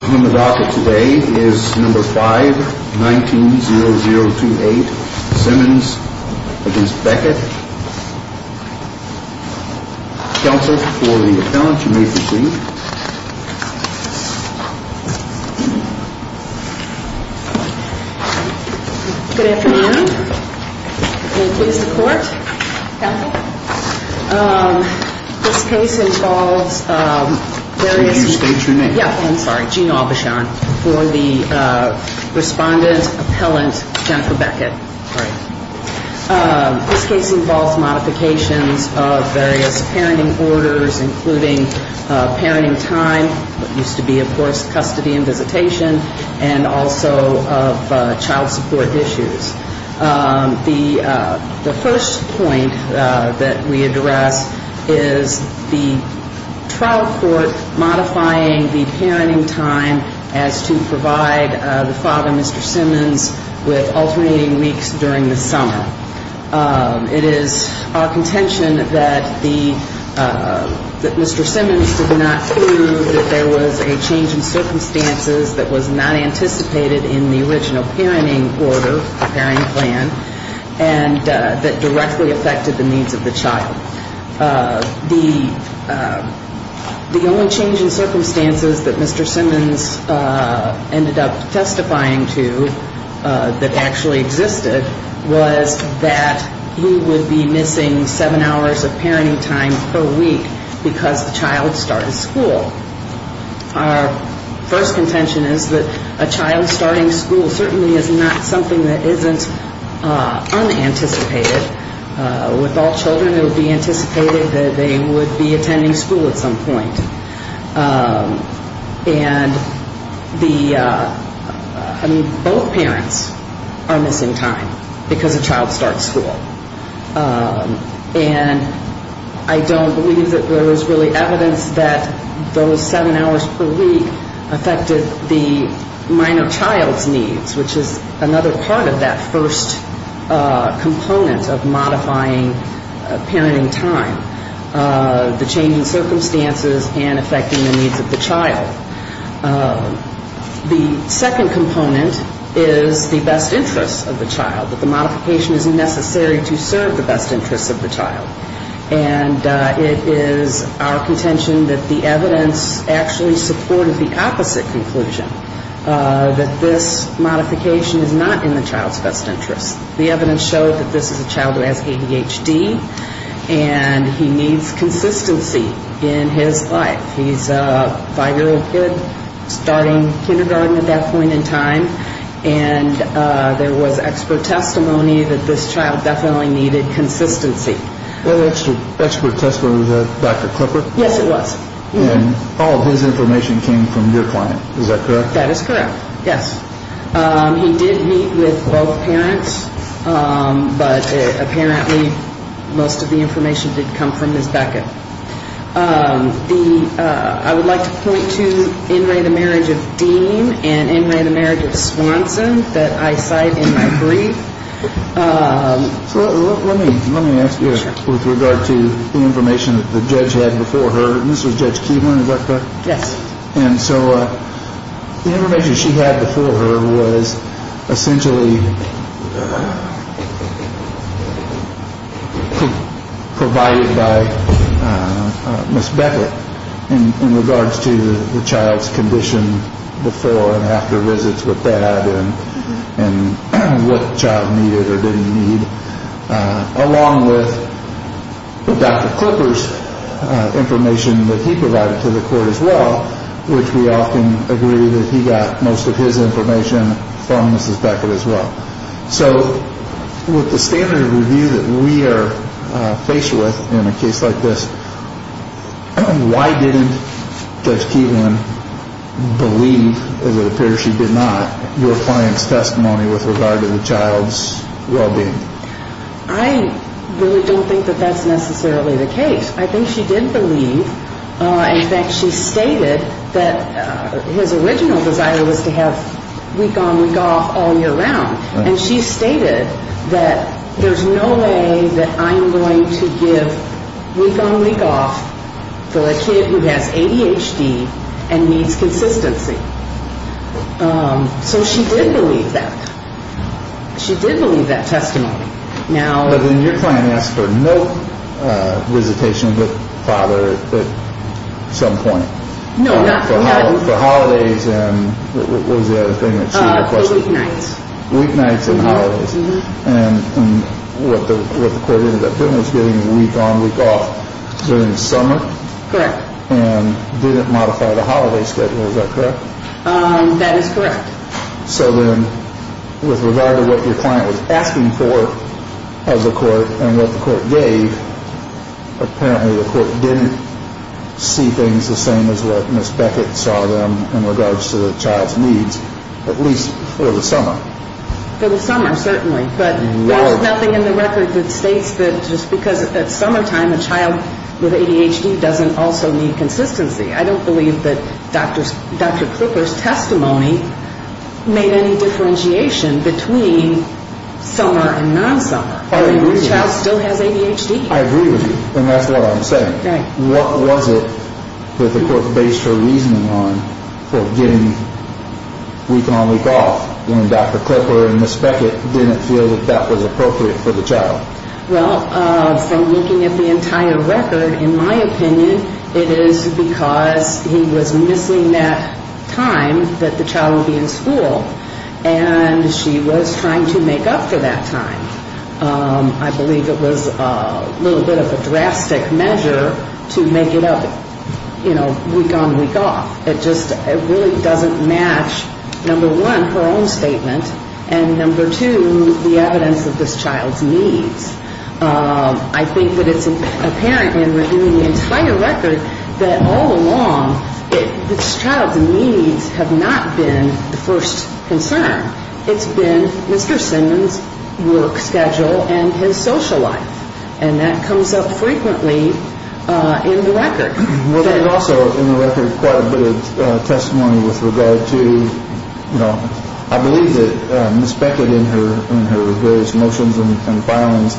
On the docket today is No. 5-19-0028, Simmons v. Beckett. Counsel for the appellant, you may proceed. Good afternoon. May it please the Court? Counsel? This case involves various... Could you state your name? Yeah, I'm sorry, Jean Aubuchon. For the respondent appellant, Jennifer Beckett. This case involves modifications of various parenting orders, including parenting time, what used to be, of course, custody and visitation, and also of child support issues. The first point that we address is the trial court modifying the parenting time as to provide the father, Mr. Simmons, with alternating weeks during the summer. It is our contention that Mr. Simmons did not prove that there was a change in circumstances that was not anticipated in the original parenting order, the parenting plan, and that directly affected the needs of the child. The only change in circumstances that Mr. Simmons ended up testifying to that actually existed was that he would be missing seven hours of parenting time per week because the child started school. Our first contention is that a child starting school certainly is not something that isn't unanticipated. With all children, it would be anticipated that they would be attending school at some point. And the, I mean, both parents are missing time because a child starts school. And I don't believe that there is really evidence that those seven hours per week affected the minor child's needs, which is another part of that first component of modifying parenting time. The second component is the best interests of the child, that the modification is necessary to serve the best interests of the child. And it is our contention that the evidence actually supported the opposite conclusion, that this modification is not in the child's best interests. The evidence showed that this is a child who has ADHD, and he needs consistency in his life. He's a five-year-old kid starting kindergarten at that point in time, and there was expert testimony that this child definitely needed consistency. Well, that's the expert testimony of Dr. Clipper? Yes, it was. And all of his information came from your client. Is that correct? That is correct, yes. He did meet with both parents, but apparently most of the information did come from Ms. Beckett. I would like to point to In re, the marriage of Dean and In re, the marriage of Swanson that I cite in my brief. So let me let me ask you with regard to the information that the judge had before her. And this was Judge Kevlin. Is that correct? Yes. And so the information she had before her was essentially provided by Ms. Beckett in regards to the child's condition before and after visits with dad and what the child needed or didn't need, along with Dr. Clipper's information that he provided to the court as well, which we often agree that he got most of his information from Mrs. Beckett as well. So with the standard of review that we are faced with in a case like this, why didn't Judge Kevlin believe, as it appears she did not, your client's testimony with regard to the child's well-being? I really don't think that that's necessarily the case. I think she did believe, in fact, she stated that his original desire was to have week-on-week-off all year round. And she stated that there's no way that I'm going to give week-on-week-off to a kid who has ADHD and needs consistency. So she did believe that. She did believe that testimony. But then your client asked for no visitation with father at some point? No, not for that. For holidays and what was the other thing that she requested? Weeknights. Weeknights and holidays. And what the court ended up doing was giving week-on-week-off during the summer? Correct. And didn't modify the holiday schedule, is that correct? That is correct. So then with regard to what your client was asking for as a court and what the court gave, apparently the court didn't see things the same as what Ms. Beckett saw them in regards to the child's needs, at least for the summer? For the summer, certainly. But there's nothing in the record that states that just because it's summertime, a child with ADHD doesn't also need consistency. I don't believe that Dr. Klipper's testimony made any differentiation between summer and non-summer. I agree with you. And this child still has ADHD. I agree with you. And that's what I'm saying. Right. What was it that the court based her reasoning on for giving week-on-week-off when Dr. Klipper and Ms. Beckett didn't feel that that was appropriate for the child? Well, from looking at the entire record, in my opinion, it is because he was missing that time that the child would be in school. And she was trying to make up for that time. I believe it was a little bit of a drastic measure to make it up, you know, week-on-week-off. It just really doesn't match, number one, her own statement, and number two, the evidence of this child's needs. I think that it's apparent in reviewing the entire record that all along this child's needs have not been the first concern. It's been Mr. Simmons' work schedule and his social life, and that comes up frequently in the record. Well, there's also in the record quite a bit of testimony with regard to, you know, I believe that Ms. Beckett in her various motions and filings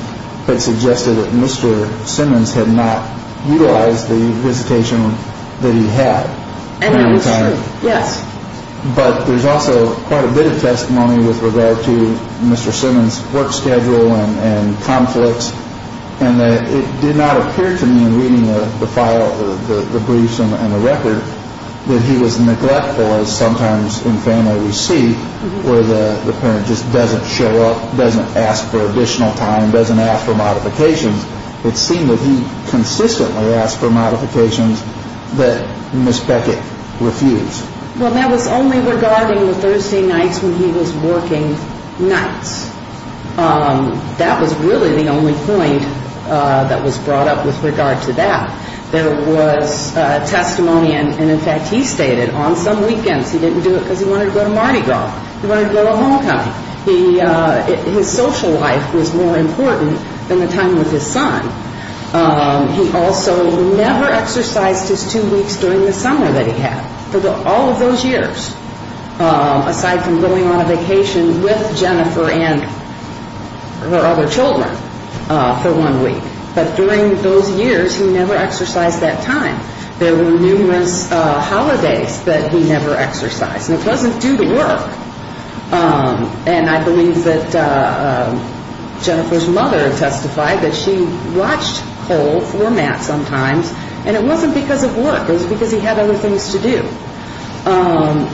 had suggested that Mr. Simmons had not utilized the visitation that he had. And that was true, yes. But there's also quite a bit of testimony with regard to Mr. Simmons' work schedule and conflicts, and it did not appear to me in reading the file, the briefs and the record, that he was neglectful as sometimes in family we see where the parent just doesn't show up, doesn't ask for additional time, doesn't ask for modifications. It seemed that he consistently asked for modifications that Ms. Beckett refused. Well, that was only regarding the Thursday nights when he was working nights. That was really the only point that was brought up with regard to that. There was testimony, and in fact he stated on some weekends he didn't do it because he wanted to go to Mardi Gras. He wanted to go to Homecoming. His social life was more important than the time with his son. He also never exercised his two weeks during the summer that he had, for all of those years, aside from going on a vacation with Jennifer and her other children for one week. But during those years he never exercised that time. There were numerous holidays that he never exercised. And it wasn't due to work. And I believe that Jennifer's mother testified that she watched Cole for Matt sometimes, and it wasn't because of work. It was because he had other things to do.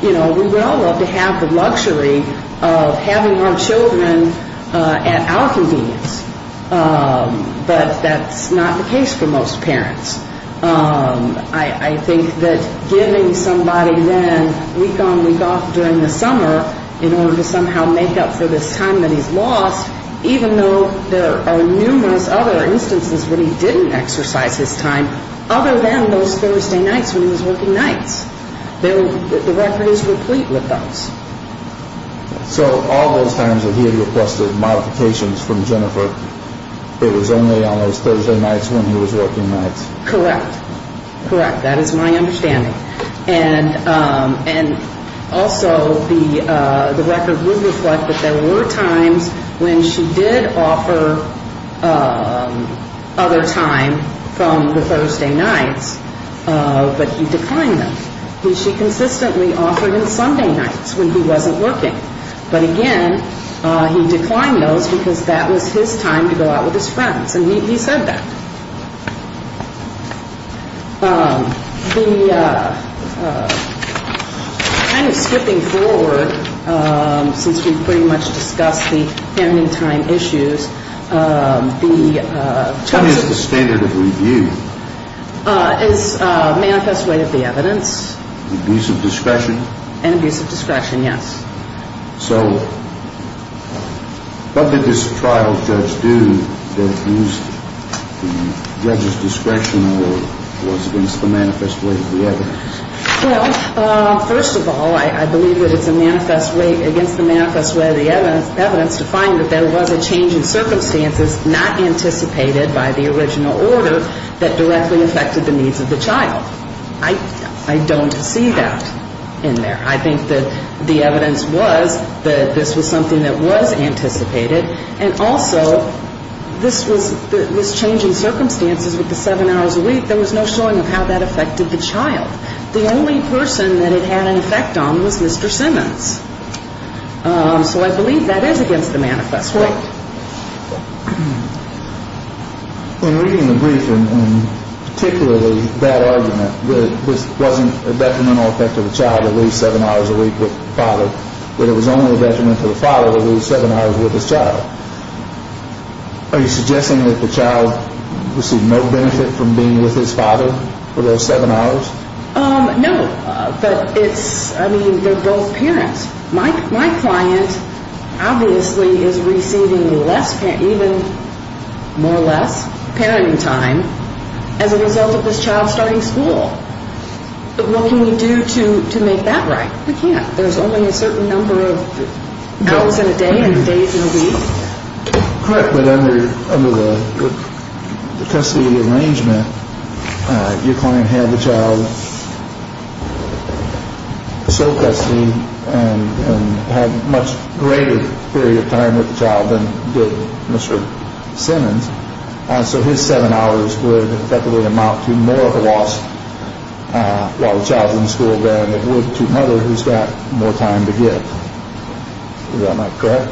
You know, we would all love to have the luxury of having our children at our convenience, but that's not the case for most parents. I think that giving somebody then week on week off during the summer in order to somehow make up for this time that he's lost, even though there are numerous other instances when he didn't exercise his time, other than those Thursday nights when he was working nights, the record is replete with those. So all those times that he had requested modifications from Jennifer, it was only on those Thursday nights when he was working nights. Correct. Correct. That is my understanding. And also the record would reflect that there were times when she did offer other time from the Thursday nights, but he declined them. She consistently offered him Sunday nights when he wasn't working. But again, he declined those because that was his time to go out with his friends, and he said that. Kind of skipping forward since we've pretty much discussed the family time issues. What is the standard of review? It's manifest rate of the evidence. Abuse of discretion. And abuse of discretion, yes. So what did this trial judge do that used the judge's discretion or was against the manifest rate of the evidence? Well, first of all, I believe that it's against the manifest rate of the evidence to find that there was a change in circumstances not anticipated by the original order that directly affected the needs of the child. I don't see that in there. I think that the evidence was that this was something that was anticipated, and also this was changing circumstances with the seven hours a week. There was no showing of how that affected the child. The only person that it had an effect on was Mr. Simmons. So I believe that is against the manifest rate. In reading the brief, and particularly that argument, that this wasn't a detrimental effect to the child to leave seven hours a week with the father, but it was only a detriment to the father to leave seven hours with his child, are you suggesting that the child received no benefit from being with his father for those seven hours? No, but it's, I mean, they're both parents. My client obviously is receiving less, even more or less, parenting time as a result of this child starting school. But what can we do to make that right? We can't. There's only a certain number of hours in a day and days in a week. Correct, but under the custody arrangement, your client had the child show custody and had a much greater period of time with the child than did Mr. Simmons. So his seven hours would effectively amount to more of a loss while the child's in school than it would to another who's got more time to give. Is that not correct?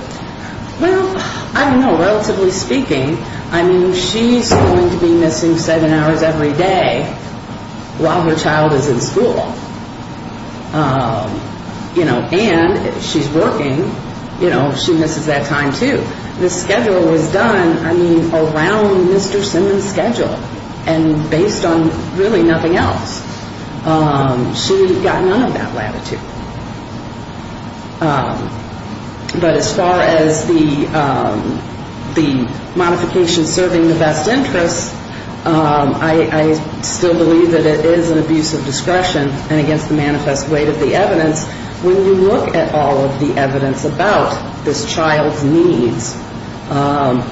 Well, I don't know. Relatively speaking, I mean, she's going to be missing seven hours every day while her child is in school, you know, and she's working, you know, she misses that time too. The schedule was done, I mean, around Mr. Simmons' schedule and based on really nothing else. She got none of that latitude. But as far as the modification serving the best interests, I still believe that it is an abuse of discretion and against the manifest weight of the evidence. When you look at all of the evidence about this child's needs,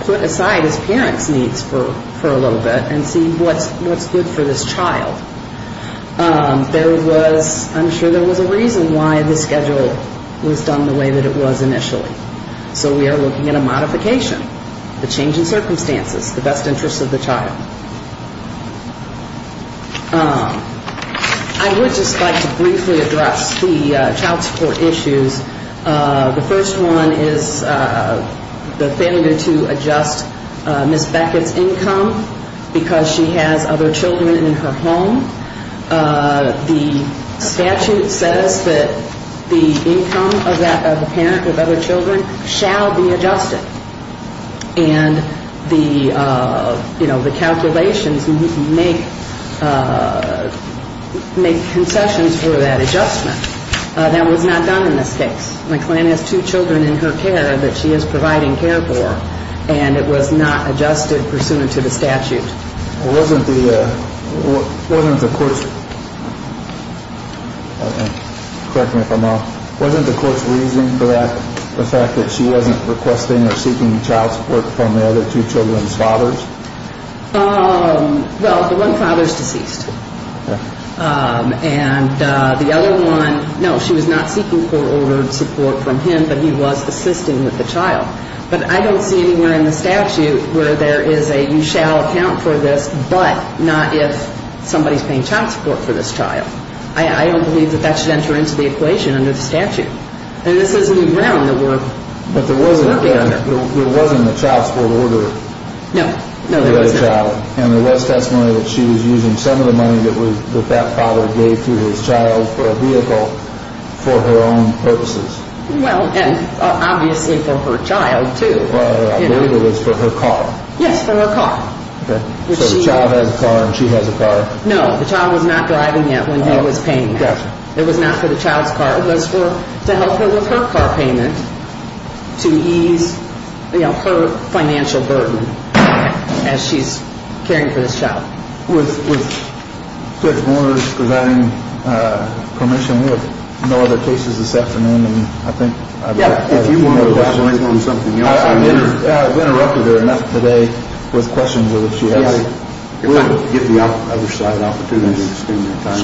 put aside his parents' needs for a little bit and see what's good for this child. There was, I'm sure there was a reason why the schedule was done the way that it was initially. So we are looking at a modification, the change in circumstances, the best interests of the child. I would just like to briefly address the child support issues. The first one is the failure to adjust Ms. Beckett's income because she has other children in her home. The statute says that the income of the parent of other children shall be adjusted. And the, you know, the calculations make concessions for that adjustment. That was not done in this case. My client has two children in her care that she is providing care for and it was not adjusted pursuant to the statute. Wasn't the, wasn't the court's, correct me if I'm wrong, wasn't the court's reasoning for that the fact that she wasn't requesting or seeking child support from the other two children's fathers? Well, the one father is deceased. And the other one, no, she was not seeking court-ordered support from him, but he was assisting with the child. But I don't see anywhere in the statute where there is a you shall account for this, but not if somebody is paying child support for this child. I don't believe that that should enter into the equation under the statute. And this is new ground that we're working under. But there wasn't a child support order for the other child. And there was testimony that she was using some of the money that that father gave to his child for a vehicle for her own purposes. Well, and obviously for her child too. I believe it was for her car. Yes, for her car. So the child has a car and she has a car. No, the child was not driving it when he was paying that. It was not for the child's car. It was to help her with her car payment to ease, you know, her financial burden as she's caring for this child. With Judge Moore's presiding permission, we have no other cases this afternoon. And I think if you want to advise on something else, I've interrupted her enough today with questions that she has. If I could give the other side an opportunity to extend their time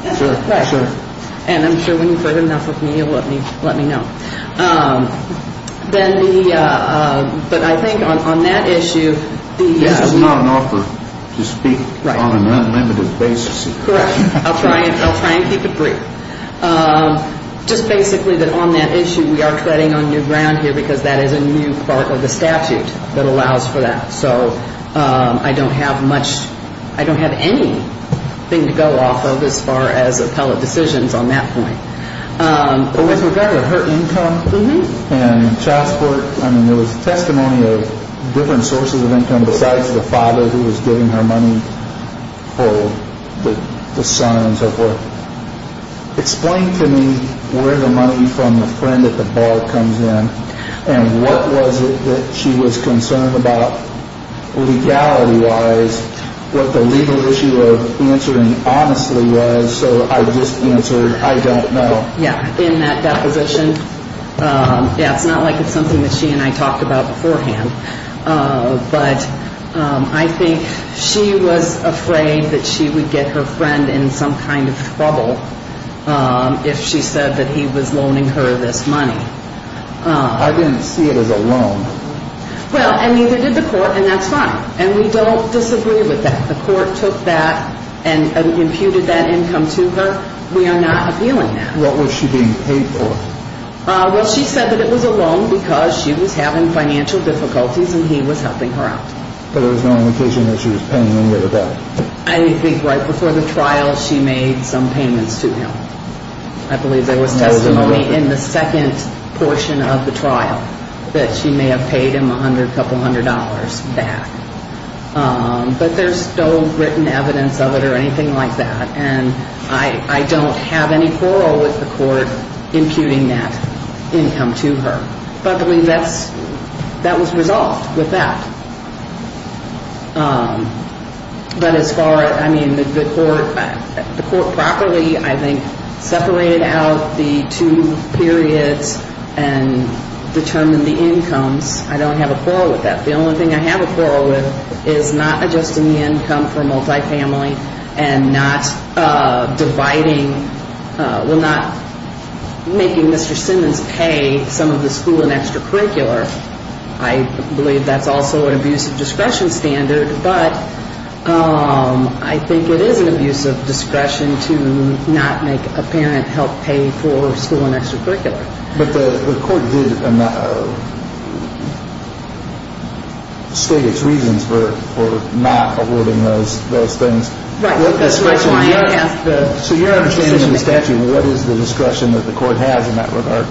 if necessary. Sure. And I'm sure when you've heard enough of me, you'll let me know. Then the, but I think on that issue, the This is not an offer to speak on an unlimited basis. Correct. I'll try and keep it brief. Just basically that on that issue, we are treading on new ground here because that is a new part of the statute that allows for that. So I don't have much. I don't have anything to go off of as far as appellate decisions on that point. With regard to her income and child support. I mean, there was testimony of different sources of income besides the father who was giving her money for the son and so forth. Explain to me where the money from the friend at the bar comes in. And what was it that she was concerned about? Legality wise, what the legal issue of answering honestly was. So I just answered, I don't know. Yeah. In that deposition. It's not like it's something that she and I talked about beforehand. But I think she was afraid that she would get her friend in some kind of trouble if she said that he was loaning her this money. I didn't see it as a loan. Well, I mean, they did the court and that's fine. And we don't disagree with that. The court took that and imputed that income to her. We are not appealing that. What was she being paid for? Well, she said that it was a loan because she was having financial difficulties and he was helping her out. But there was no indication that she was paying any of it back. I think right before the trial, she made some payments to him. I believe there was testimony in the second portion of the trial that she may have paid him a hundred, couple hundred dollars back. But there's no written evidence of it or anything like that. And I don't have any quarrel with the court imputing that income to her. But I believe that was resolved with that. But as far as, I mean, the court properly, I think, separated out the two periods and determined the incomes. I don't have a quarrel with that. The only thing I have a quarrel with is not adjusting the income for multifamily and not dividing, well, not making Mr. Simmons pay some of the school and extracurricular. I believe that's also an abuse of discretion standard. But I think it is an abuse of discretion to not make a parent help pay for school and extracurricular. But the court did state its reasons for not awarding those things. Right. That's why I asked the decision maker. So your understanding of the statute, what is the discretion that the court has in that regard?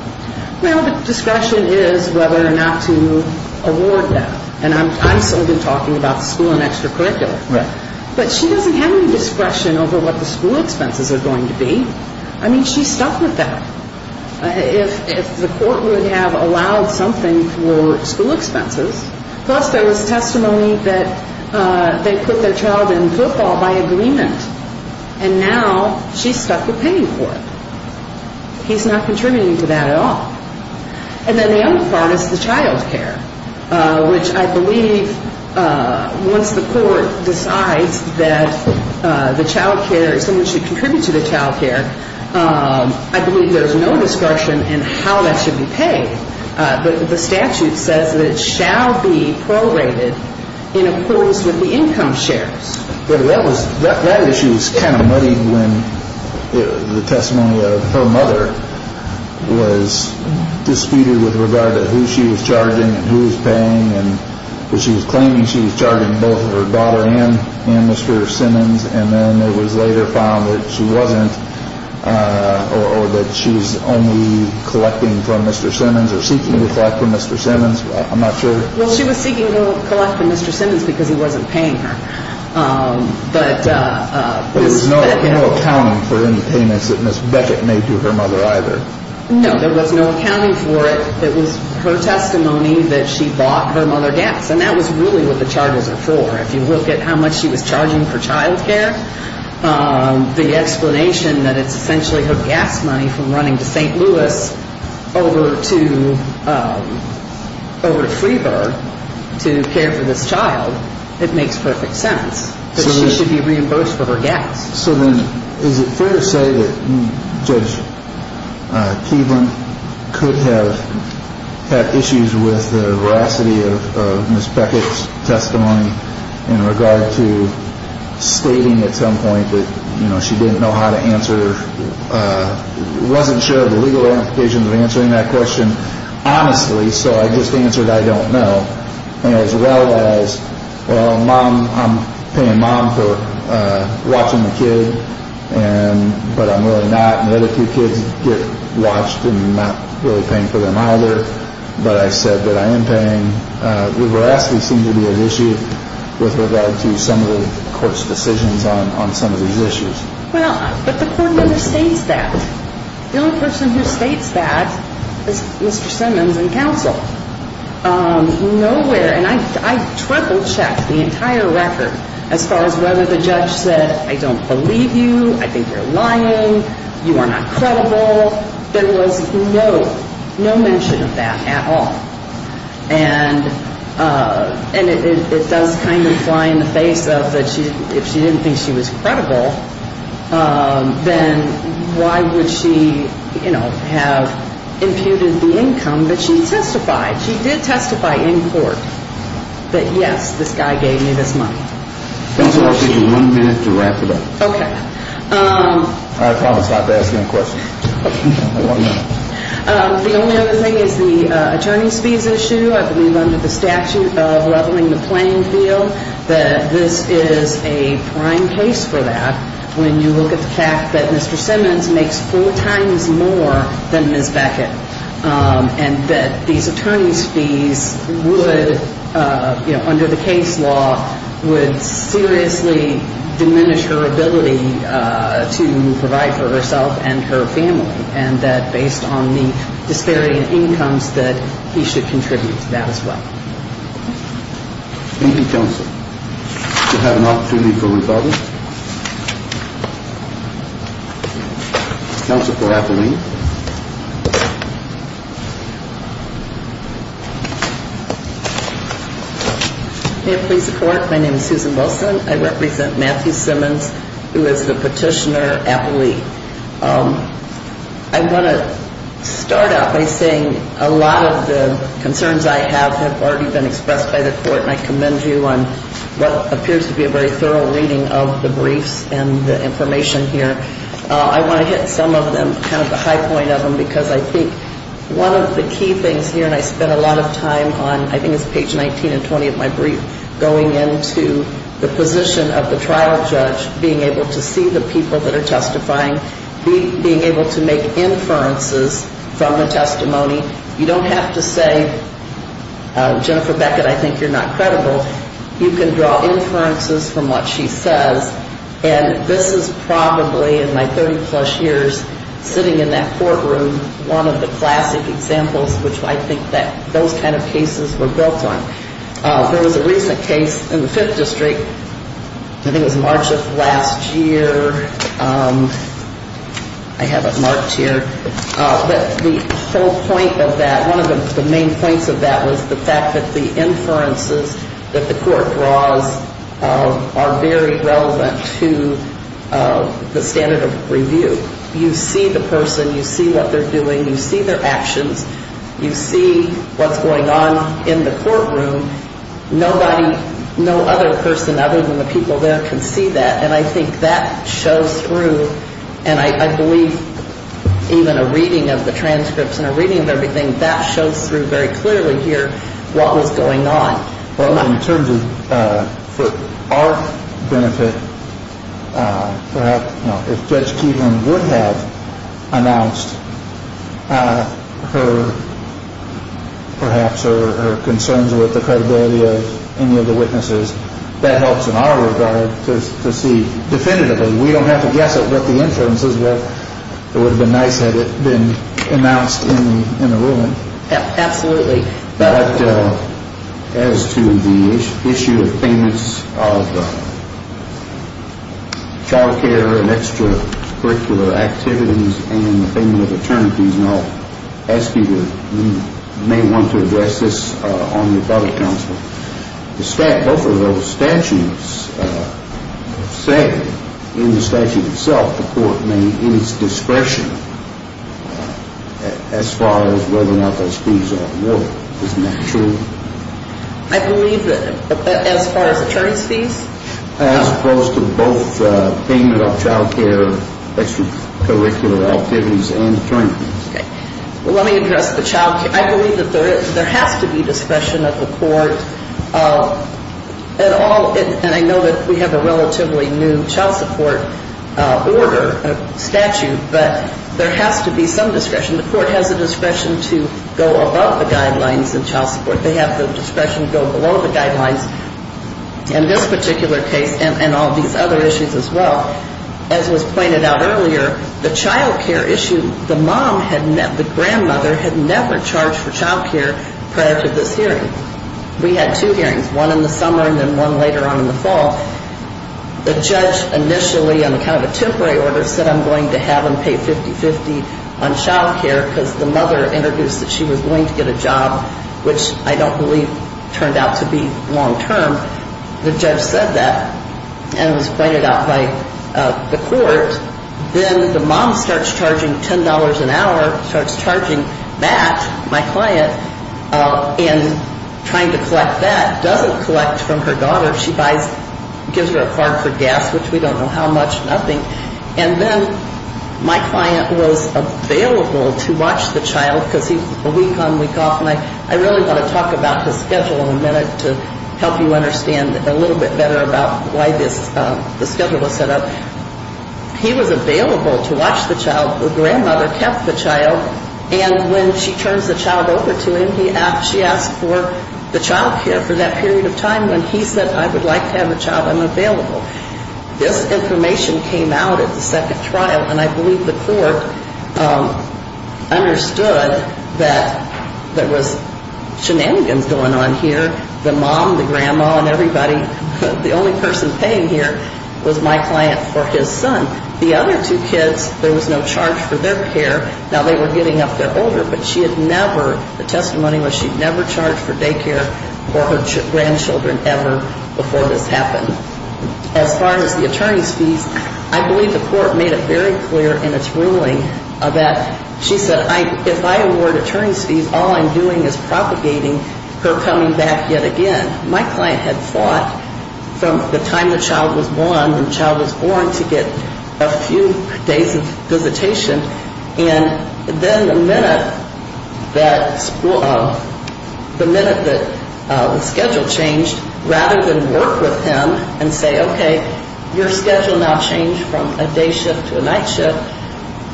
Well, the discretion is whether or not to award that. And I'm solely talking about school and extracurricular. Right. But she doesn't have any discretion over what the school expenses are going to be. I mean, she's stuck with that. If the court would have allowed something for school expenses, plus there was testimony that they put their child in football by agreement, and now she's stuck with paying for it. He's not contributing to that at all. And then the other part is the child care, which I believe once the court decides that the child care, someone should contribute to the child care, I believe there's no discretion in how that should be paid. But the statute says that it shall be prorated in accordance with the income shares. That issue was kind of muddied when the testimony of her mother was disputed with regard to who she was charging and who was paying. She was claiming she was charging both her daughter and Mr. Simmons. And then it was later found that she wasn't, or that she was only collecting from Mr. Simmons or seeking to collect from Mr. Simmons. I'm not sure. Well, she was seeking to collect from Mr. Simmons because he wasn't paying her. But there was no accounting for any payments that Ms. Beckett made to her mother either. No, there was no accounting for it. It was her testimony that she bought her mother gas. And that was really what the charges are for. If you look at how much she was charging for child care, the explanation that it's essentially her gas money from running to St. Louis over to Freeburg to care for this child, it makes perfect sense that she should be reimbursed for her gas. So then is it fair to say that Judge Keevlin could have had issues with the veracity of Ms. Beckett's testimony in regard to stating at some point that she didn't know how to answer, wasn't sure of the legal implications of answering that question honestly, so I just answered I don't know. As well as, well, Mom, I'm paying Mom for watching the kid, but I'm really not. The other two kids get watched and I'm not really paying for them either. But I said that I am paying. The veracity seemed to be an issue with regard to some of the court's decisions on some of these issues. Well, but the court never states that. The only person who states that is Mr. Simmons in counsel. Nowhere, and I triple checked the entire record as far as whether the judge said I don't believe you, I think you're lying, you are not credible. There was no mention of that at all. And it does kind of fly in the face of that if she didn't think she was credible, then why would she, you know, have imputed the income that she testified? She did testify in court that, yes, this guy gave me this money. Counsel, I'll give you one minute to wrap it up. Okay. I promise not to ask any questions. The only other thing is the attorney's fees issue. I believe under the statute of leveling the playing field that this is a prime case for that. When you look at the fact that Mr. Simmons makes four times more than Ms. Beckett and that these attorney's fees would, you know, under the case law, would seriously diminish her ability to provide for herself and her family, and that based on the disparity in incomes that he should contribute to that as well. Thank you, counsel. We'll have an opportunity for rebuttal. Counsel for Appellee. May I please report? My name is Susan Wilson. I represent Matthew Simmons, who is the petitioner appellee. I want to start out by saying a lot of the concerns I have have already been expressed by the court, and I commend you on what appears to be a very thorough reading of the briefs and the information here. I want to hit some of them, kind of the high point of them, because I think one of the key things here, and I spent a lot of time on, I think it's page 19 and 20 of my brief, going into the position of the trial judge, being able to see the people that are testifying, being able to make inferences from the testimony. You don't have to say, Jennifer Beckett, I think you're not credible. You can draw inferences from what she says, and this is probably, in my 30-plus years sitting in that courtroom, one of the classic examples which I think that those kind of cases were built on. There was a recent case in the Fifth District, I think it was March of last year, I have it marked here, but the whole point of that, one of the main points of that was the fact that the inferences that the court draws are very relevant to the standard of review. You see the person, you see what they're doing, you see their actions, you see what's going on in the courtroom, nobody, no other person other than the people there can see that, and I think that shows through, and I believe even a reading of the transcripts and a reading of everything, that shows through very clearly here what was going on. Well, in terms of, for our benefit, perhaps, you know, if Judge Keaton would have announced her, perhaps, her concerns with the credibility of any of the witnesses, that helps in our regard to see definitively. We don't have to guess at what the inference is, but it would have been nice had it been announced in the ruling. Absolutely. As to the issue of payments of child care and extracurricular activities and the payment of attorneys, I'll ask you to, you may want to address this on your court of counsel. Both of those statutes say, in the statute itself, the court may, in its discretion, as far as whether or not those fees are awarded. Isn't that true? I believe that, as far as attorneys' fees? As opposed to both payment of child care, extracurricular activities, and attorneys' fees. Okay. Well, let me address the child care. I believe that there has to be discretion of the court at all. And I know that we have a relatively new child support order, statute, but there has to be some discretion. The court has the discretion to go above the guidelines in child support. They have the discretion to go below the guidelines in this particular case and all these other issues as well. As was pointed out earlier, the child care issue, the mom, the grandmother had never charged for child care prior to this hearing. We had two hearings, one in the summer and then one later on in the fall. The judge initially, on account of a temporary order, said I'm going to have them pay 50-50 on child care because the mother introduced that she was going to get a job, which I don't believe turned out to be long-term. The judge said that and it was pointed out by the court. Then the mom starts charging $10 an hour, starts charging that, my client, and trying to collect that, doesn't collect from her daughter. She buys, gives her a card for gas, which we don't know how much, nothing. And then my client was available to watch the child because he's a week on, week off. And I really want to talk about his schedule in a minute to help you understand a little bit better about why the schedule was set up. He was available to watch the child. The grandmother kept the child. And when she turns the child over to him, she asked for the child care for that period of time. And he said I would like to have the child. I'm available. This information came out at the second trial, and I believe the court understood that there was shenanigans going on here. The mom, the grandma, and everybody, the only person paying here was my client for his son. The other two kids, there was no charge for their care. Now, they were getting up there older, but she had never, the testimony was she had never charged for day care for her grandchildren ever before this happened. As far as the attorney's fees, I believe the court made it very clear in its ruling that she said if I award attorney's fees, all I'm doing is propagating her coming back yet again. My client had fought from the time the child was born to get a few days of visitation. And then the minute that the schedule changed, rather than work with him and say, okay, your schedule now changed from a day shift to a night shift,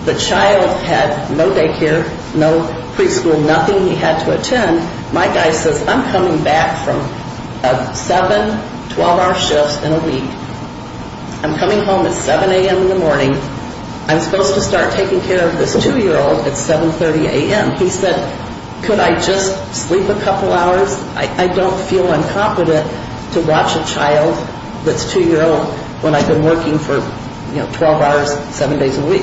the child had no day care, no preschool, nothing he had to attend. And my guy says, I'm coming back from a seven, 12-hour shift in a week. I'm coming home at 7 a.m. in the morning. I'm supposed to start taking care of this two-year-old at 7.30 a.m. He said, could I just sleep a couple hours? I don't feel incompetent to watch a child that's two-year-old when I've been working for, you know, 12 hours, seven days a week.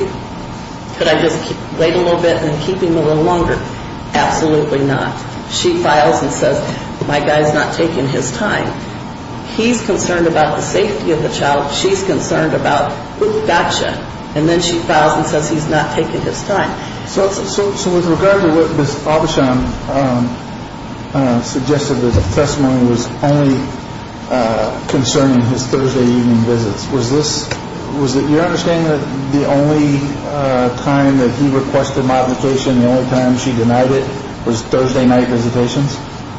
Could I just wait a little bit and keep him a little longer? Absolutely not. She files and says, my guy's not taking his time. He's concerned about the safety of the child. She's concerned about gotcha. And then she files and says he's not taking his time. So with regard to what Ms. Avisham suggested, that the testimony was only concerning his Thursday evening visits, was it your understanding that the only time that he requested modification, the only time she denied it, was Thursday night visitations?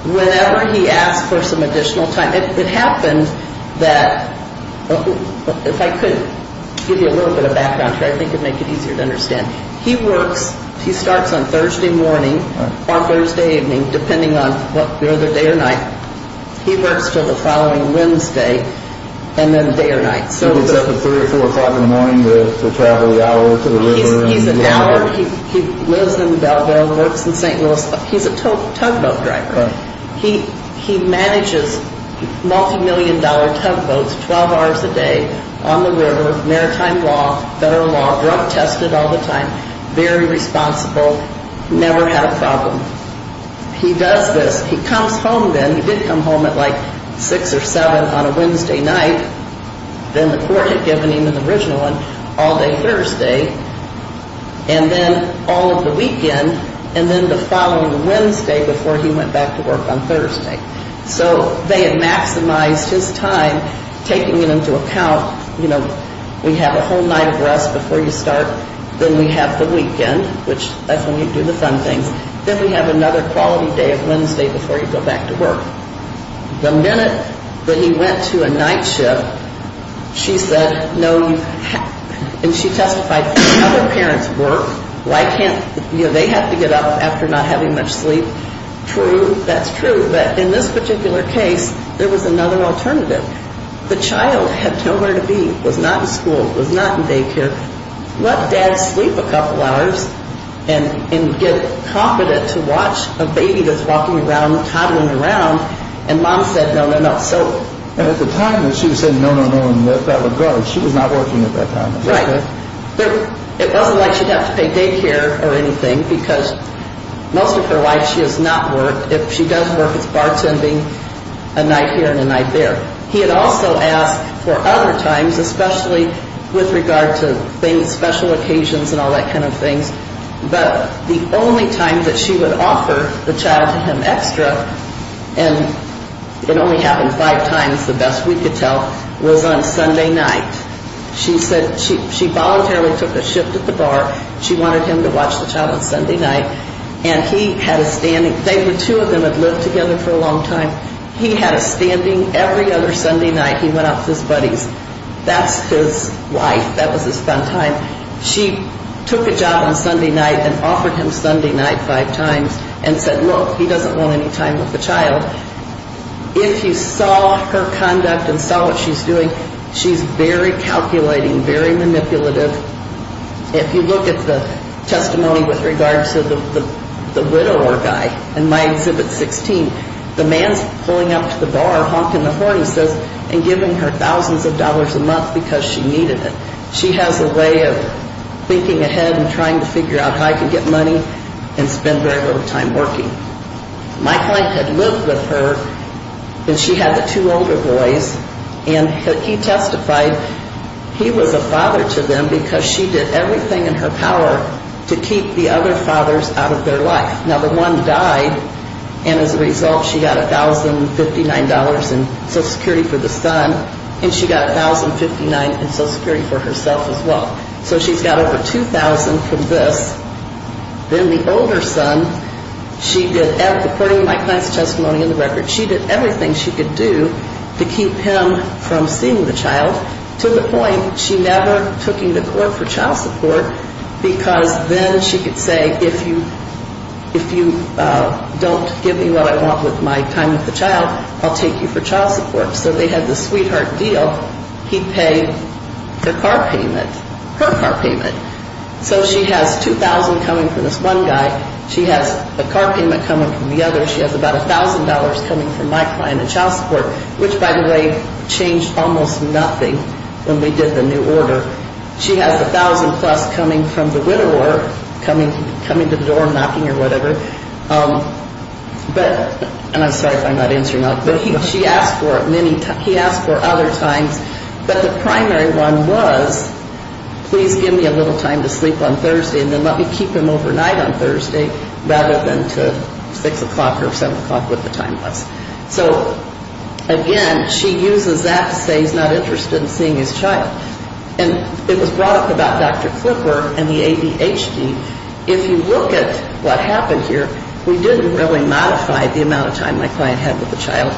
Whenever he asked for some additional time. It happened that, if I could give you a little bit of background here, I think it would make it easier to understand. He works, he starts on Thursday morning or Thursday evening, depending on whether day or night. He works until the following Wednesday and then day or night. He gets up at 3 or 4 o'clock in the morning to travel the hour to the river? He's an hour, he lives in Belleville, works in St. Louis. He's a tugboat driver. He manages multi-million dollar tugboats, 12 hours a day, on the river, maritime law, federal law, drug tested all the time, very responsible, never had a problem. He does this, he comes home then, he did come home at like 6 or 7 on a Wednesday night, then the court had given him an original one all day Thursday, and then all of the weekend, and then the following Wednesday before he went back to work on Thursday. So they had maximized his time, taking it into account, you know, we have a whole night of rest before you start, then we have the weekend, which, that's when you do the fun things, then we have another quality day of Wednesday before you go back to work. The minute that he went to a night shift, she said, no, and she testified, other parents work, why can't, you know, they have to get up after not having much sleep. True, that's true, but in this particular case, there was another alternative. The child had nowhere to be, was not in school, was not in daycare. Let dad sleep a couple hours and get confident to watch a baby that's walking around, toddling around, and mom said no, no, no. And at the time that she was saying no, no, no, and left out of the garden, she was not working at that time. Right, it wasn't like she'd have to pay daycare or anything, because most of her life she has not worked. If she does work, it's bartending a night here and a night there. He had also asked for other times, especially with regard to things, special occasions and all that kind of things, but the only time that she would offer the child to him extra, and it only happened five times, the best we could tell, was on Sunday night. She said she voluntarily took a shift at the bar, she wanted him to watch the child on Sunday night, and he had a standing, two of them had lived together for a long time, he had a standing every other Sunday night. He went out to his buddies. That's his life. That was his fun time. She took a job on Sunday night and offered him Sunday night five times and said, look, he doesn't want any time with the child. If you saw her conduct and saw what she's doing, she's very calculating, very manipulative. If you look at the testimony with regards to the widower guy in my exhibit 16, the man's pulling up to the bar, honking the horn, he says, and giving her thousands of dollars a month because she needed it. She has a way of thinking ahead and trying to figure out how he can get money and spend very little time working. My client had lived with her, and she had the two older boys, and he testified he was a father to them because she did everything in her power to keep the other fathers out of their life. Now, the one died, and as a result, she got $1,059 in Social Security for the son, and she got $1,059 in Social Security for herself as well. So she's got over $2,000 from this. Then the older son, she did, according to my client's testimony in the record, she did everything she could do to keep him from seeing the child to the point she never took him to court for child support because then she could say, if you don't give me what I want with my time with the child, I'll take you for child support. So they had this sweetheart deal. He'd pay her car payment, her car payment. So she has $2,000 coming from this one guy. She has a car payment coming from the other. She has about $1,000 coming from my client in child support, which, by the way, changed almost nothing when we did the new order. She has $1,000-plus coming from the widower, coming to the door, knocking or whatever. And I'm sorry if I'm not answering that, but she asked for it. And then he asked for other times, but the primary one was, please give me a little time to sleep on Thursday and then let me keep him overnight on Thursday rather than to 6 o'clock or 7 o'clock, whatever the time was. So, again, she uses that to say he's not interested in seeing his child. And it was brought up about Dr. Klipper and the ADHD. If you look at what happened here, we didn't really modify the amount of time my client had with the child.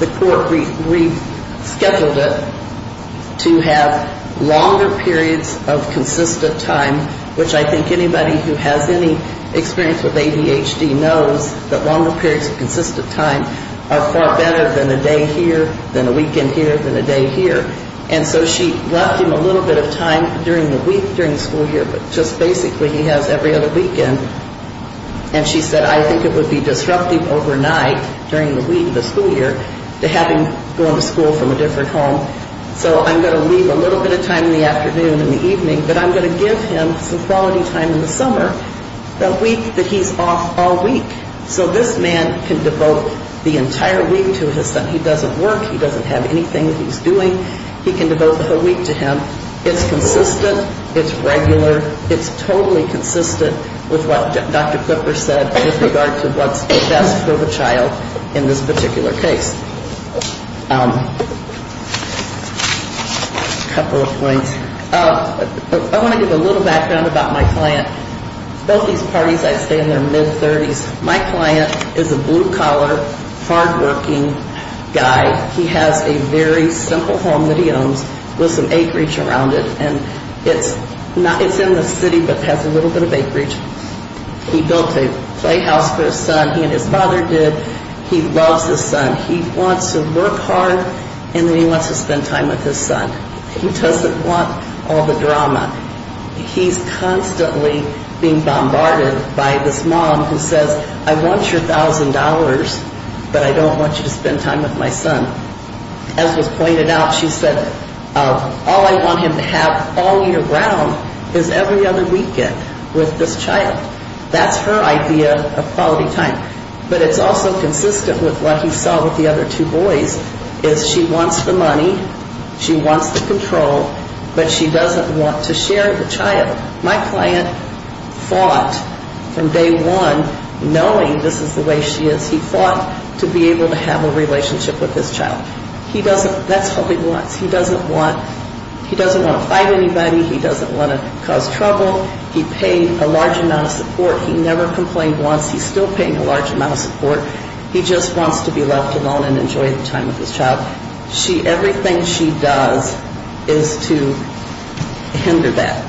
The court rescheduled it to have longer periods of consistent time, which I think anybody who has any experience with ADHD knows that longer periods of consistent time are far better than a day here, than a weekend here, than a day here. And so she left him a little bit of time during the week, during the school year, but just basically he has every other weekend. And she said, I think it would be disruptive overnight during the week of the school year to have him going to school from a different home. So I'm going to leave a little bit of time in the afternoon and the evening, but I'm going to give him some quality time in the summer, the week that he's off all week. So this man can devote the entire week to his son. He doesn't work. He doesn't have anything that he's doing. He can devote the whole week to him. It's consistent. It's regular. It's totally consistent with what Dr. Klipper said with regard to what's best for the child in this particular case. A couple of points. I want to give a little background about my client. Both these parties, I stay in their mid-30s. My client is a blue-collar, hard-working guy. He has a very simple home that he owns with some acreage around it. And it's in the city but has a little bit of acreage. He built a playhouse for his son. He and his father did. He loves his son. He wants to work hard and then he wants to spend time with his son. He doesn't want all the drama. He's constantly being bombarded by this mom who says, I want your $1,000, but I don't want you to spend time with my son. As was pointed out, she said, All I want him to have all year round is every other weekend with this child. That's her idea of quality time. But it's also consistent with what he saw with the other two boys. She wants the money. She wants the control. But she doesn't want to share the child. My client fought from day one knowing this is the way she is. He fought to be able to have a relationship with his child. That's all he wants. He doesn't want to fight anybody. He doesn't want to cause trouble. He paid a large amount of support. He never complained once. He's still paying a large amount of support. He just wants to be left alone and enjoy the time with his child. Everything she does is to hinder that.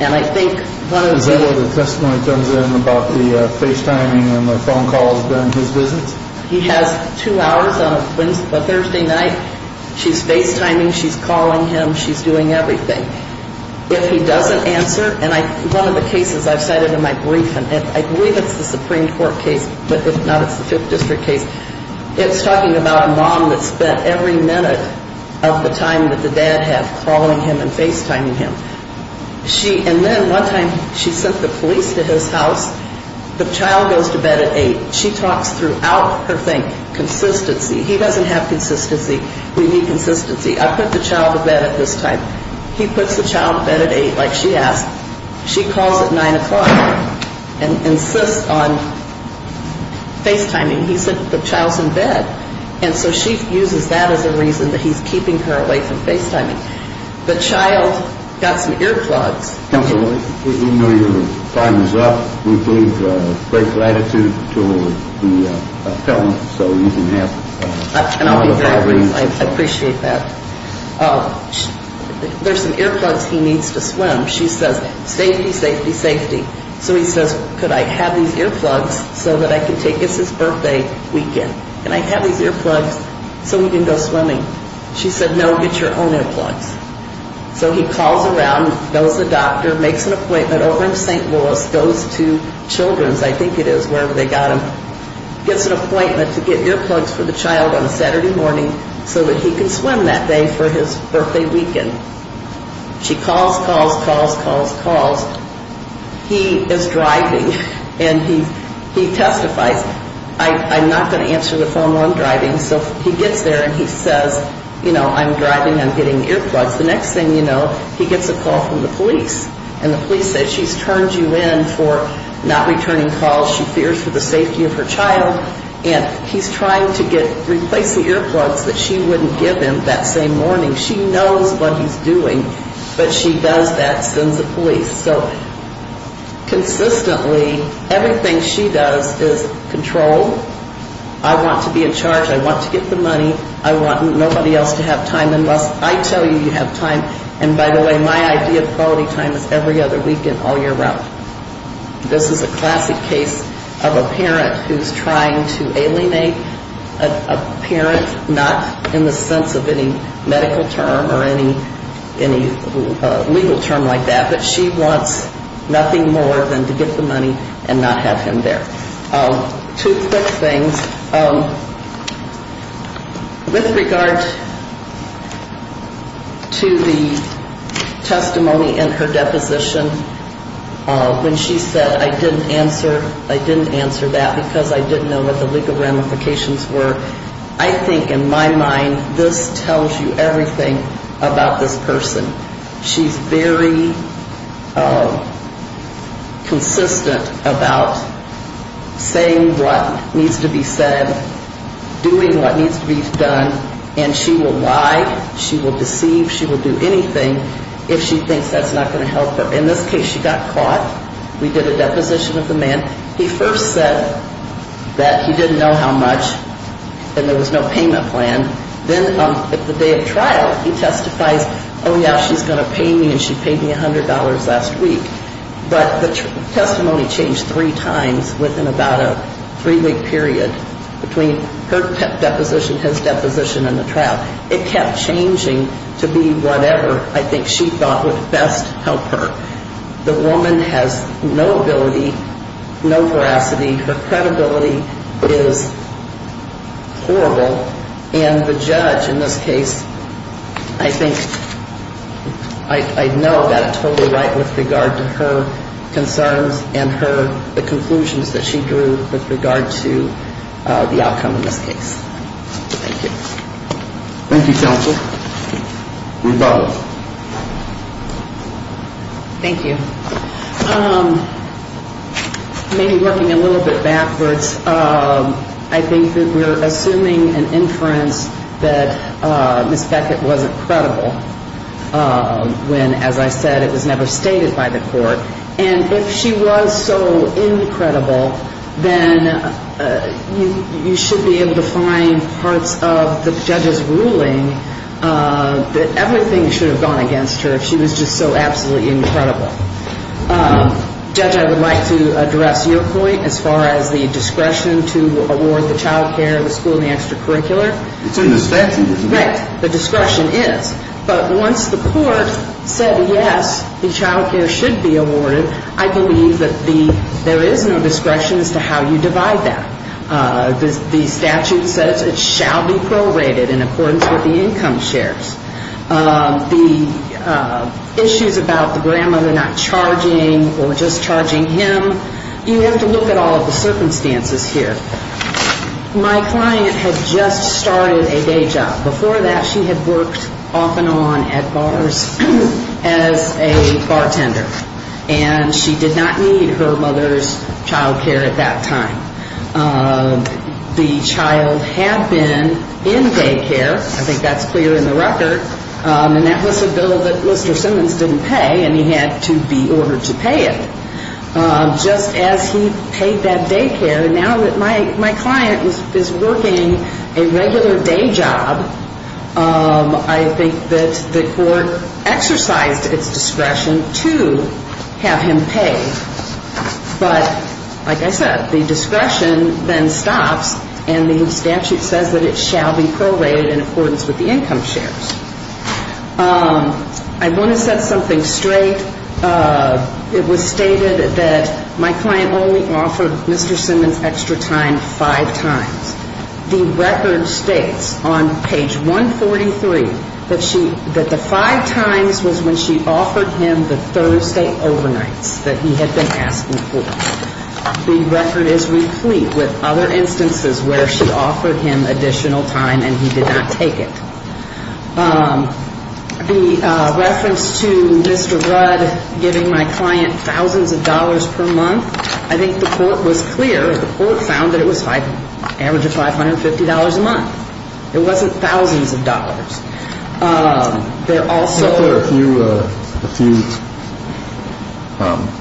Is that where the testimony comes in about the FaceTiming and the phone calls during his visits? He has two hours on a Thursday night. She's FaceTiming. She's calling him. She's doing everything. If he doesn't answer, and one of the cases I've cited in my brief, and I believe it's the Supreme Court case, but if not, it's the Fifth District case. It's talking about a mom that spent every minute of the time that the dad had calling him and FaceTiming him. And then one time she sent the police to his house. The child goes to bed at 8. She talks throughout her thing. Consistency. He doesn't have consistency. We need consistency. I put the child to bed at this time. He puts the child to bed at 8 like she asked. She calls at 9 o'clock and insists on FaceTiming. And he said the child's in bed. And so she uses that as a reason that he's keeping her away from FaceTiming. The child got some earplugs. Counsel, we know your time is up. We believe great gratitude to the felon so you can have another five minutes. And I'll be very brief. I appreciate that. There's some earplugs he needs to swim. She says, safety, safety, safety. So he says, could I have these earplugs so that I can take this his birthday weekend? Can I have these earplugs so he can go swimming? She said, no, get your own earplugs. So he calls around, goes to the doctor, makes an appointment over in St. Louis, goes to Children's, I think it is, wherever they got him, gets an appointment to get earplugs for the child on a Saturday morning so that he can swim that day for his birthday weekend. She calls, calls, calls, calls, calls. He is driving, and he testifies. I'm not going to answer the phone while I'm driving. So he gets there and he says, you know, I'm driving, I'm getting earplugs. The next thing you know, he gets a call from the police, and the police say she's turned you in for not returning calls. She fears for the safety of her child, and he's trying to replace the earplugs that she wouldn't give him that same morning. She knows what he's doing, but she does that, sends the police. So consistently, everything she does is control. I want to be in charge. I want to get the money. I want nobody else to have time unless I tell you you have time. And by the way, my idea of quality time is every other weekend all year round. This is a classic case of a parent who's trying to alienate a parent, not in the sense of any medical term or any legal term like that, but she wants nothing more than to get the money and not have him there. Two quick things. With regard to the testimony in her deposition when she said, I didn't answer that because I didn't know what the legal ramifications were, I think in my mind this tells you everything about this person. She's very consistent about saying what needs to be said, doing what needs to be done, and she will lie, she will deceive, she will do anything if she thinks that's not going to help her. In this case, she got caught. We did a deposition of the man. He first said that he didn't know how much and there was no payment plan. Then at the day of trial, he testifies, oh, yeah, she's going to pay me, and she paid me $100 last week. But the testimony changed three times within about a three-week period between her deposition, his deposition, and the trial. It kept changing to be whatever I think she thought would best help her. The woman has no ability, no veracity. Her credibility is horrible, and the judge in this case, I think, I know got it totally right with regard to her concerns and the conclusions that she drew with regard to the outcome in this case. Thank you. Thank you, Counsel. Rebuttal. Thank you. Maybe working a little bit backwards, I think that we're assuming an inference that Miss Beckett wasn't credible when, as I said, it was never stated by the court. And if she was so incredible, then you should be able to find parts of the judge's ruling that everything should have gone against her if she was just so absolutely incredible. Judge, I would like to address your point as far as the discretion to award the child care at the school in the extracurricular. It's in the statute. Right. The discretion is. But once the court said, yes, the child care should be awarded, I believe that there is no discretion as to how you divide that. The statute says it shall be prorated in accordance with the income shares. The issues about the grandmother not charging or just charging him, you have to look at all of the circumstances here. My client had just started a day job. Before that, she had worked off and on at bars as a bartender. And she did not need her mother's child care at that time. The child had been in day care. I think that's clear in the record. And that was a bill that Lister Simmons didn't pay, and he had to be ordered to pay it. Just as he paid that day care. Now that my client is working a regular day job, I think that the court exercised its discretion to have him pay. But like I said, the discretion then stops, and the statute says that it shall be prorated in accordance with the income shares. I want to set something straight. It was stated that my client only offered Mr. Simmons extra time five times. The record states on page 143 that the five times was when she offered him the Thursday overnights that he had been asking for. The record is replete with other instances where she offered him additional time and he did not take it. The reference to Mr. Rudd giving my client thousands of dollars per month, I think the court was clear. The court found that it was average of $550 a month. It wasn't thousands of dollars. There also were a few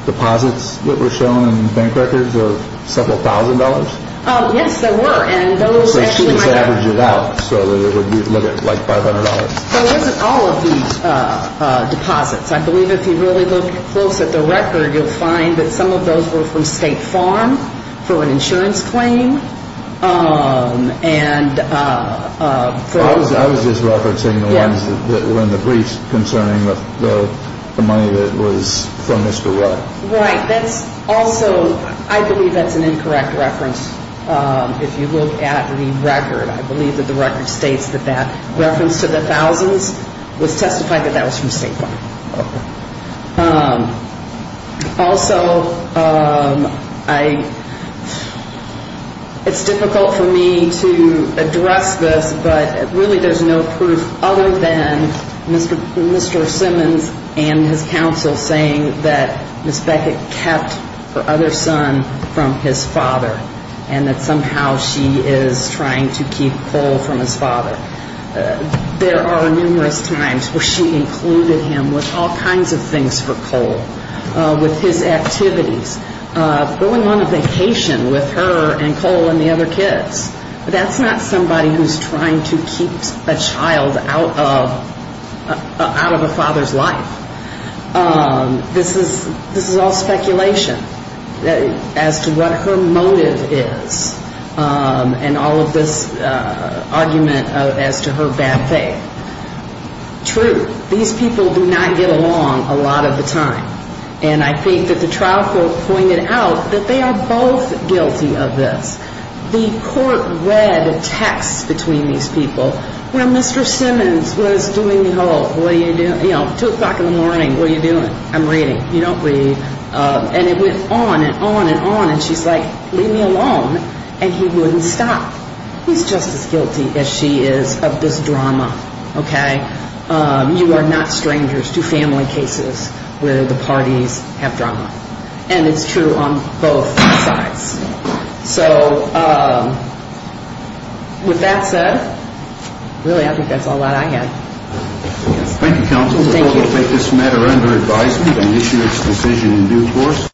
deposits that were shown in bank records of several thousand dollars. Yes, there were. So she just averaged it out so that it would limit like $500. So it wasn't all of these deposits. I believe if you really look close at the record, you'll find that some of those were from State Farm for an insurance claim. I was just referencing the ones that were in the briefs concerning the money that was from Mr. Rudd. Right. That's also, I believe that's an incorrect reference. If you look at the record, I believe that the record states that that reference to the thousands was testified that that was from State Farm. Also, it's difficult for me to address this, but really there's no proof other than Mr. Simmons and his counsel saying that Ms. Beckett kept her other son from his father and that somehow she is trying to keep Cole from his father. There are numerous times where she included him with all kinds of things for Cole, with his activities, going on a vacation with her and Cole and the other kids. That's not somebody who's trying to keep a child out of a father's life. This is all speculation as to what her motive is and all of this argument as to her bad faith. True, these people do not get along a lot of the time. And I think that the trial court pointed out that they are both guilty of this. The court read a text between these people where Mr. Simmons was doing the whole, you know, 2 o'clock in the morning, what are you doing? I'm reading. You don't read. And it went on and on and on. And she's like, leave me alone. And he wouldn't stop. He's just as guilty as she is of this drama, okay? You are not strangers to family cases where the parties have drama. And it's true on both sides. So with that said, really I think that's all that I have. Thank you, counsel. Thank you. We will take this matter under advisement and issue its decision in due course.